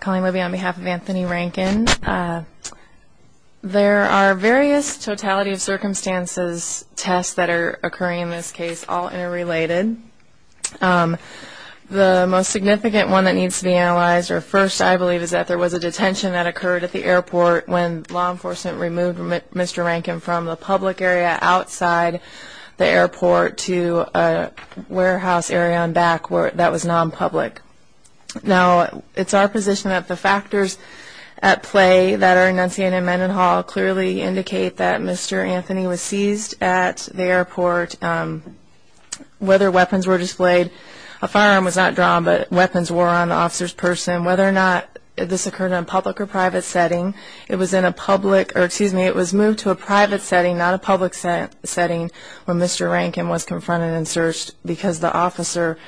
Colleen Libby on behalf of Anthony Rankin. There are various totality of circumstances tests that are occurring in this case all interrelated. The most significant one that needs to be analyzed or first I believe is that there was a detention that occurred at the airport when law enforcement removed Mr. Rankin from the public area outside the airport to a warehouse area on back court that was non-public. Now it's our position that the factors at play that are enunciated in Mendenhall clearly indicate that Mr. Anthony was seized at the airport. Whether weapons were displayed, a firearm was not drawn but weapons were on the officer's person. Whether or not this occurred in a public or private setting, it was in a public or excuse me it was moved to a private setting not a public setting when Mr. Rankin was confronted and searched because the officer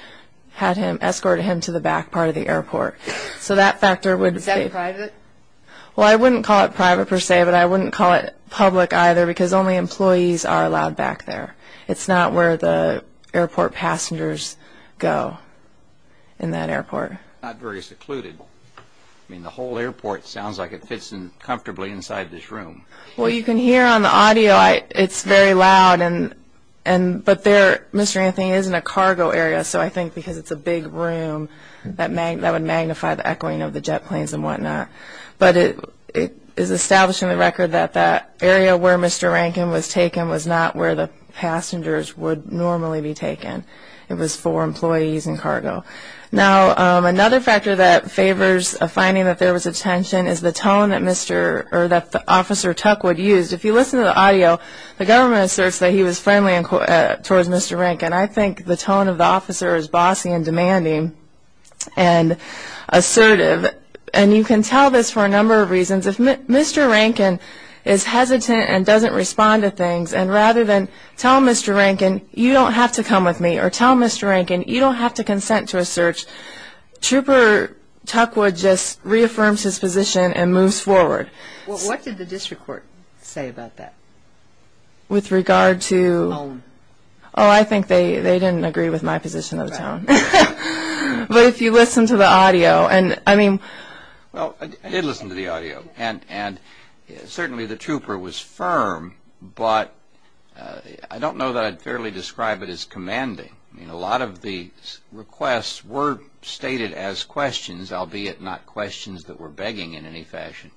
had him escorted him to the back part of the airport. So that factor would... Is that private? Well I wouldn't call it private per se but I wouldn't call it public either because only employees are allowed back there. It's not where the airport passengers go in that airport. Not very secluded. I mean the whole airport sounds like it fits in comfortably inside this room. Well you can hear on the audio it's very loud and but there Mr. Anthony is in a cargo area so I think because it's a big room that would magnify the echoing of the jet planes and what not. But it is establishing the record that that area where Mr. Rankin was taken was not where the passengers would normally be taken. It was for employees and cargo. Now another factor that favors finding that there was a tension is the tone that Mr. or that Officer Tuckwood used. If you listen to the audio the government asserts that he was friendly towards Mr. Rankin. I think the tone of the officer is bossy and demanding and assertive and you can tell this for a number of reasons. If Mr. Rankin is hesitant and doesn't respond to things and rather than tell Mr. Rankin you don't have to come with me or tell Mr. Rankin you don't have to consent to a search Trooper Tuckwood just reaffirms his position and moves forward. Well what did the district court say about that? With regard to? The tone. Oh I think they didn't agree with my position of the tone. Right. But if you listen to the audio and I mean. Well I did listen to the audio and certainly the trooper was firm but I don't know that I'd fairly describe it as commanding. I mean a lot of the requests were stated as questions albeit not questions that were begging in any fashion.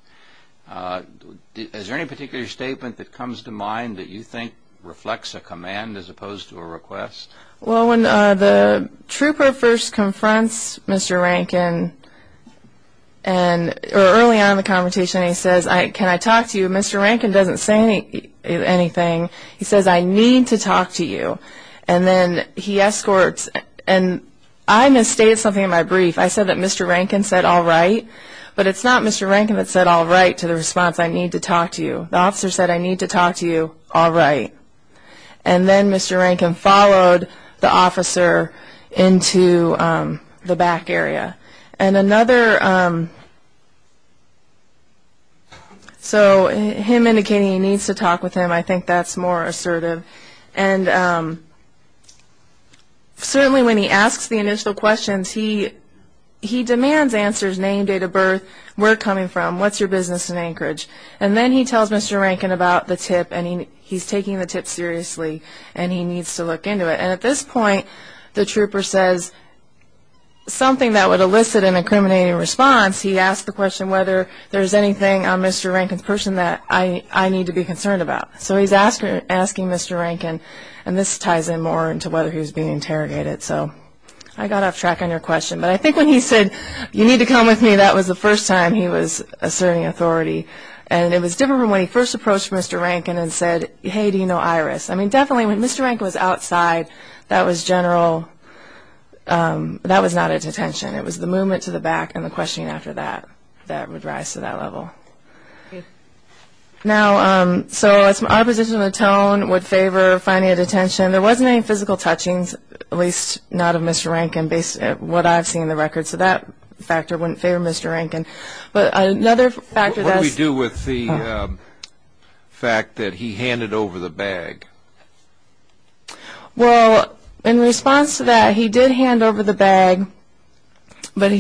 Is there any particular statement that comes to mind that you think reflects a command as opposed to a request? Well when the trooper first confronts Mr. Rankin or early on in the conversation he says can I talk to you? Mr. Rankin doesn't say anything. He says I need to talk to you. And then he escorts and I misstated something in my brief. I said that Mr. Rankin said all right. But it's not Mr. Rankin that said all right to the response I need to talk to you. The officer said I need to talk to you all right. And then Mr. Rankin followed the officer into the back area. And another so him indicating he needs to talk with him I think that's more assertive. And certainly when he asks the initial questions he demands answers name, date of birth, where coming from, what's your business in Anchorage. And then he tells Mr. Rankin about the tip and he's taking the tip seriously and he needs to look into it. And at this point the trooper says something that would elicit an incriminating response. He asks the question whether there's anything on Mr. Rankin's person that I need to be concerned about. So he's asking Mr. Rankin and this ties in more into whether he was being interrogated. So I got off track on your question. But I think when he said you need to come with me that was the first time he was asserting authority. And it was different when he first approached Mr. Rankin and said hey do you know Iris. I mean definitely when Mr. Rankin was outside that was general, that was not a detention. It was the movement to the back and the questioning after that that would rise to that level. Now so our position on the tone would favor finding a detention. There wasn't any physical touchings, at least not of Mr. Rankin based on what I've seen in the records. So that factor wouldn't favor Mr. Rankin. What do we do with the fact that he handed over the bag? Well in response to that he did hand over the bag. But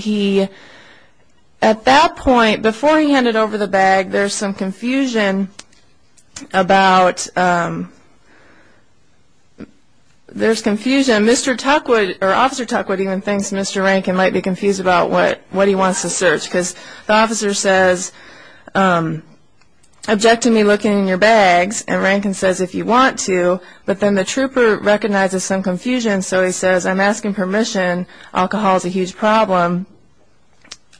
at that point before he handed over the bag there's some confusion about, there's confusion. Mr. Tuckwood or Officer Tuckwood even thinks Mr. Rankin might be confused about what he wants to search because the officer says object to me looking in your bags. And Rankin says if you want to. But then the trooper recognizes some confusion so he says I'm asking permission. Alcohol is a huge problem.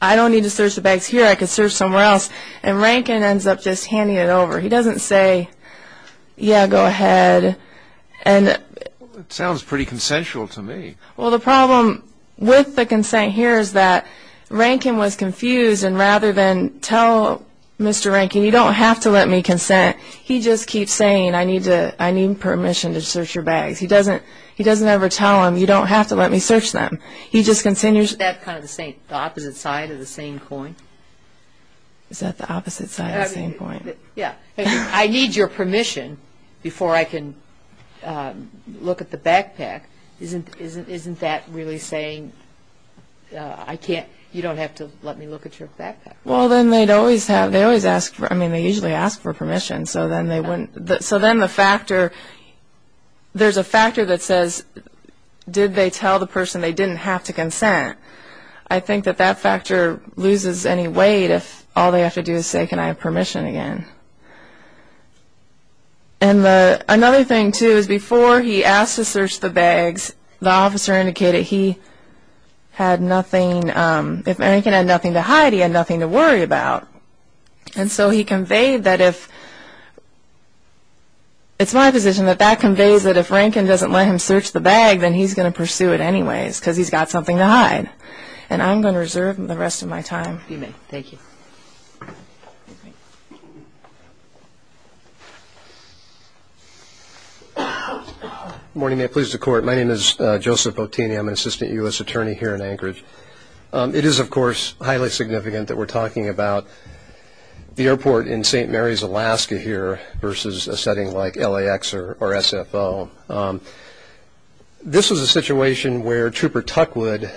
I don't need to search the bags here. I could search somewhere else. And Rankin ends up just handing it over. He doesn't say yeah go ahead. It sounds pretty consensual to me. Well the problem with the consent here is that Rankin was confused and rather than tell Mr. Rankin you don't have to let me consent, he just keeps saying I need permission to search your bags. He doesn't ever tell him you don't have to let me search them. He just continues. Isn't that kind of the opposite side of the same coin? Is that the opposite side of the same coin? I need your permission before I can look at the backpack. Isn't that really saying you don't have to let me look at your backpack? Well then they'd always ask for permission. So then the factor, there's a factor that says did they tell the person they didn't have to consent. I think that that factor loses any weight if all they have to do is say can I have permission again. And another thing too is before he asked to search the bags, the officer indicated he had nothing, if Rankin had nothing to hide he had nothing to worry about. And so he conveyed that if, it's my position that that conveys that if Rankin doesn't let him search the bag, then he's going to pursue it anyways because he's got something to hide. And I'm going to reserve the rest of my time. You may. Thank you. Good morning. May it please the Court. My name is Joseph Bottini. I'm an Assistant U.S. Attorney here in Anchorage. It is, of course, highly significant that we're talking about the airport in St. Mary's, Alaska here versus a setting like LAX or SFO. This was a situation where Trooper Tuckwood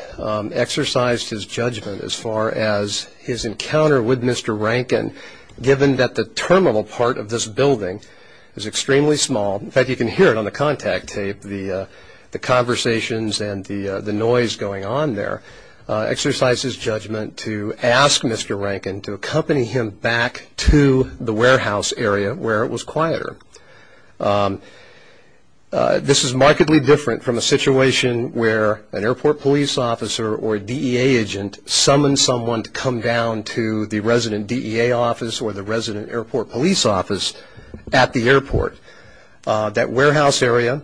exercised his judgment as far as his encounter with Mr. Rankin, given that the terminal part of this building is extremely small. In fact, you can hear it on the contact tape, the conversations and the noise going on there, exercised his judgment to ask Mr. Rankin to accompany him back to the warehouse area where it was quieter. This is markedly different from a situation where an airport police officer or DEA agent summons someone to come down to the resident DEA office or the resident airport police office at the airport. That warehouse area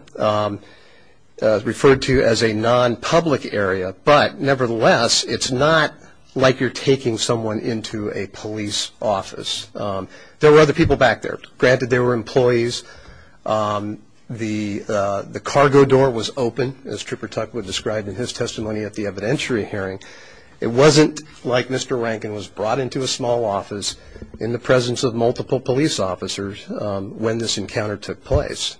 is referred to as a non-public area. But nevertheless, it's not like you're taking someone into a police office. There were other people back there. Granted, there were employees. The cargo door was open, as Trooper Tuckwood described in his testimony at the evidentiary hearing. It wasn't like Mr. Rankin was brought into a small office in the presence of multiple police officers when this encounter took place.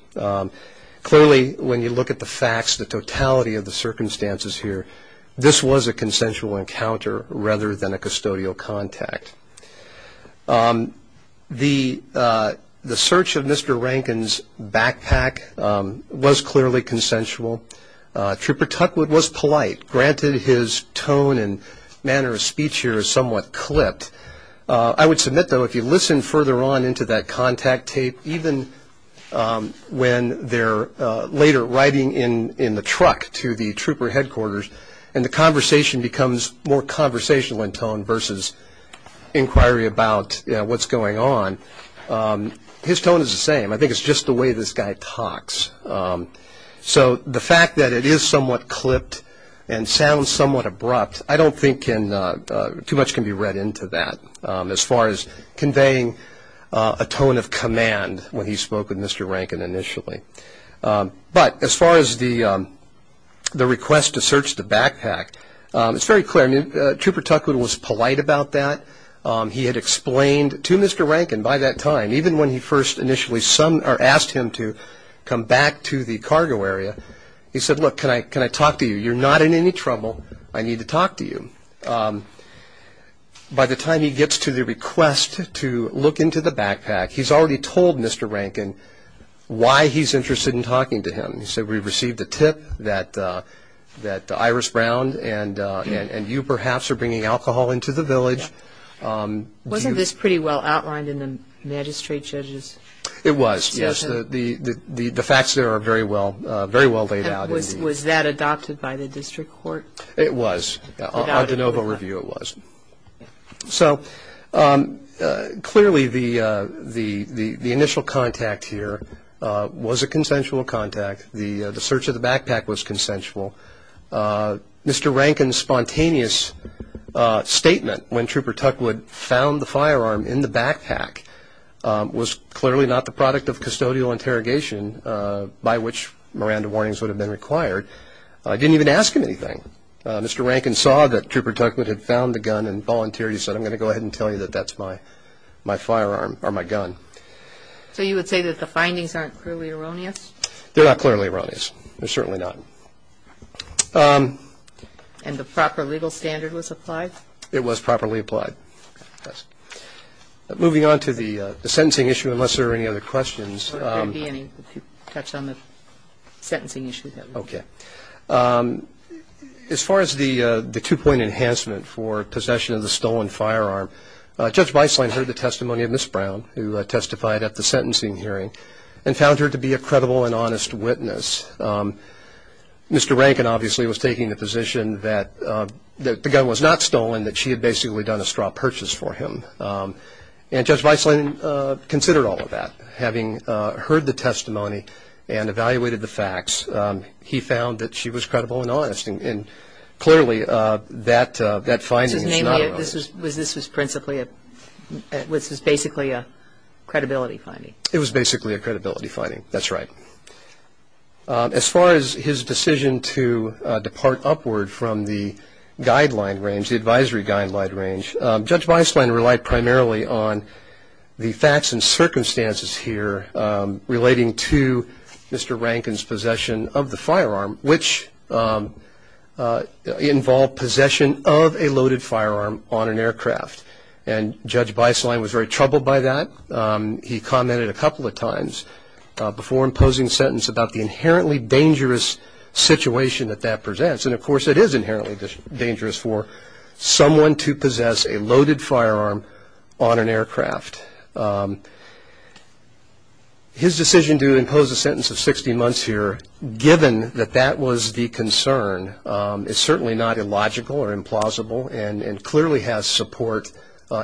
Clearly, when you look at the facts, the totality of the circumstances here, this was a consensual encounter rather than a custodial contact. The search of Mr. Rankin's backpack was clearly consensual. Trooper Tuckwood was polite. Granted, his tone and manner of speech here is somewhat clipped. I would submit, though, if you listen further on into that contact tape, even when they're later riding in the truck to the trooper headquarters and the conversation becomes more conversational in tone versus inquiry about what's going on, his tone is the same. I think it's just the way this guy talks. So the fact that it is somewhat clipped and sounds somewhat abrupt, I don't think too much can be read into that as far as conveying a tone of command when he spoke with Mr. Rankin initially. But as far as the request to search the backpack, it's very clear. Trooper Tuckwood was polite about that. He had explained to Mr. Rankin by that time, even when he first initially asked him to come back to the cargo area, he said, Look, can I talk to you? You're not in any trouble. I need to talk to you. By the time he gets to the request to look into the backpack, he's already told Mr. Rankin why he's interested in talking to him. He said, We've received a tip that Iris Brown and you perhaps are bringing alcohol into the village. Wasn't this pretty well outlined in the magistrate judge's statement? It was, yes. The facts there are very well laid out. Was that adopted by the district court? It was. On de novo review it was. So clearly the initial contact here was a consensual contact. The search of the backpack was consensual. Mr. Rankin's spontaneous statement when Trooper Tuckwood found the firearm in the backpack was clearly not the product of custodial interrogation by which Miranda warnings would have been required. I didn't even ask him anything. Mr. Rankin saw that Trooper Tuckwood had found the gun and volunteered. He said, I'm going to go ahead and tell you that that's my firearm or my gun. So you would say that the findings aren't clearly erroneous? They're not clearly erroneous. They're certainly not. And the proper legal standard was applied? It was properly applied. Moving on to the sentencing issue, unless there are any other questions. There won't be any if you touch on the sentencing issue. Okay. As far as the two-point enhancement for possession of the stolen firearm, Judge Weisslein heard the testimony of Ms. Brown, who testified at the sentencing hearing, and found her to be a credible and honest witness. Mr. Rankin obviously was taking the position that the gun was not stolen, that she had basically done a straw purchase for him. And Judge Weisslein considered all of that. Having heard the testimony and evaluated the facts, he found that she was credible and honest. And clearly that finding is not erroneous. This was basically a credibility finding? It was basically a credibility finding. That's right. As far as his decision to depart upward from the guideline range, the advisory guideline range, Judge Weisslein relied primarily on the facts and circumstances here relating to Mr. Rankin's possession of the firearm, which involved possession of a loaded firearm on an aircraft. And Judge Weisslein was very troubled by that. He commented a couple of times before imposing a sentence about the inherently dangerous situation that that presents. And, of course, it is inherently dangerous for someone to possess a loaded firearm on an aircraft. His decision to impose a sentence of 60 months here, given that that was the concern, is certainly not illogical or implausible and clearly has support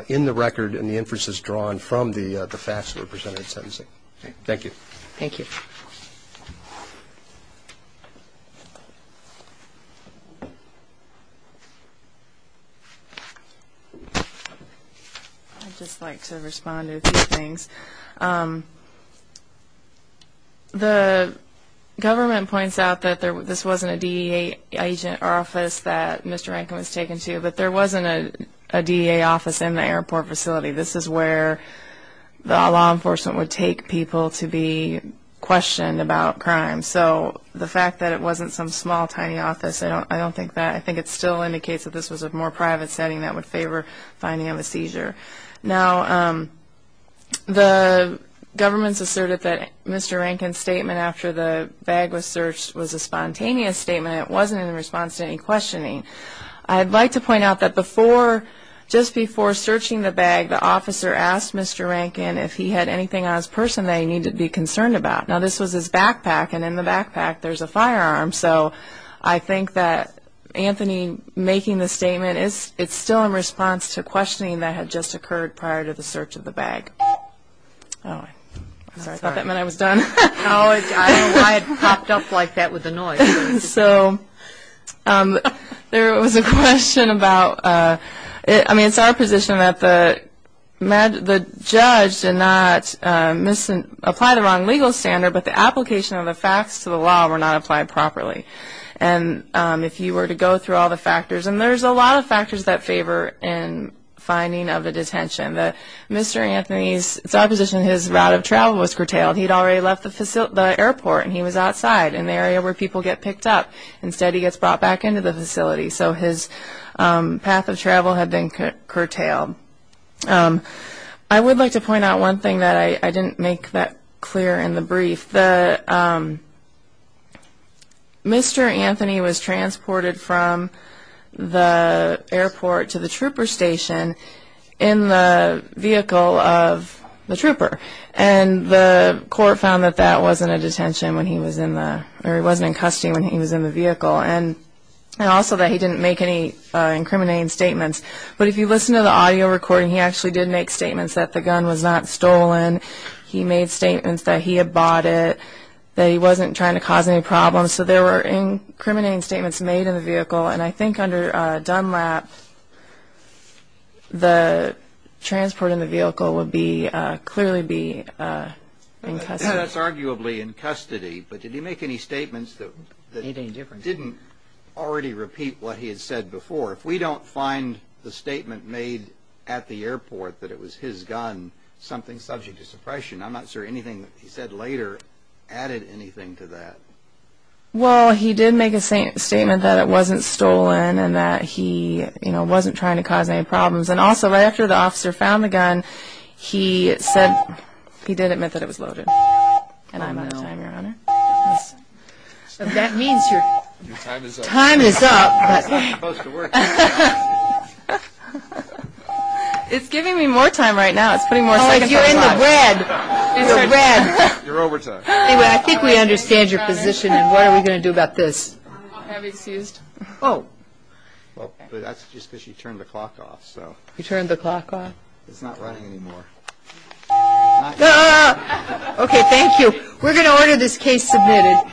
in the record and the inferences drawn from the facts that were presented in sentencing. Thank you. Thank you. I'd just like to respond to a few things. The government points out that this wasn't a DEA agent office that Mr. Rankin was taken to, but there wasn't a DEA office in the airport facility. This is where the law enforcement would take people to be questioned about crime. So the fact that it wasn't some small, tiny office, I don't think that. I think it still indicates that this was a more private setting that would favor finding him a seizure. Now, the government's asserted that Mr. Rankin's statement after the bag was searched was a spontaneous statement. It wasn't in response to any questioning. I'd like to point out that before, just before searching the bag, the officer asked Mr. Rankin if he had anything on his person that he needed to be concerned about. Now, this was his backpack, and in the backpack there's a firearm. So I think that Anthony making the statement, it's still in response to questioning that had just occurred prior to the search of the bag. Sorry, I thought that meant I was done. No, I don't know why it popped up like that with the noise. So there was a question about, I mean, it's our position that the judge did not apply the wrong legal standard, but the application of the facts to the law were not applied properly. And if you were to go through all the factors, and there's a lot of factors that favor in finding of a detention, that Mr. Anthony's, it's our position his route of travel was curtailed. He'd already left the airport, and he was outside in the area where people get picked up. Instead, he gets brought back into the facility. So his path of travel had been curtailed. I would like to point out one thing that I didn't make that clear in the brief. Mr. Anthony was transported from the airport to the trooper station in the vehicle of the trooper, and the court found that that wasn't a detention when he was in the, or he wasn't in custody when he was in the vehicle, and also that he didn't make any incriminating statements. But if you listen to the audio recording, he actually did make statements that the gun was not stolen. He made statements that he had bought it, that he wasn't trying to cause any problems. So there were incriminating statements made in the vehicle, and I think under DUNLAP the transport in the vehicle would clearly be in custody. Yeah, that's arguably in custody, but did he make any statements that didn't already repeat what he had said before? If we don't find the statement made at the airport that it was his gun, something subject to suppression, I'm not sure anything that he said later added anything to that. Well, he did make a statement that it wasn't stolen and that he, you know, wasn't trying to cause any problems. And also, right after the officer found the gun, he said, he did admit that it was loaded. That means your time is up. It's giving me more time right now. It's putting more seconds on the clock. Oh, you're in the red. You're overtime. Anyway, I think we understand your position, and what are we going to do about this? I'm excused. Oh. Well, that's just because you turned the clock off, so. You turned the clock off? It's not running anymore. Okay, thank you. We're going to order this case submitted.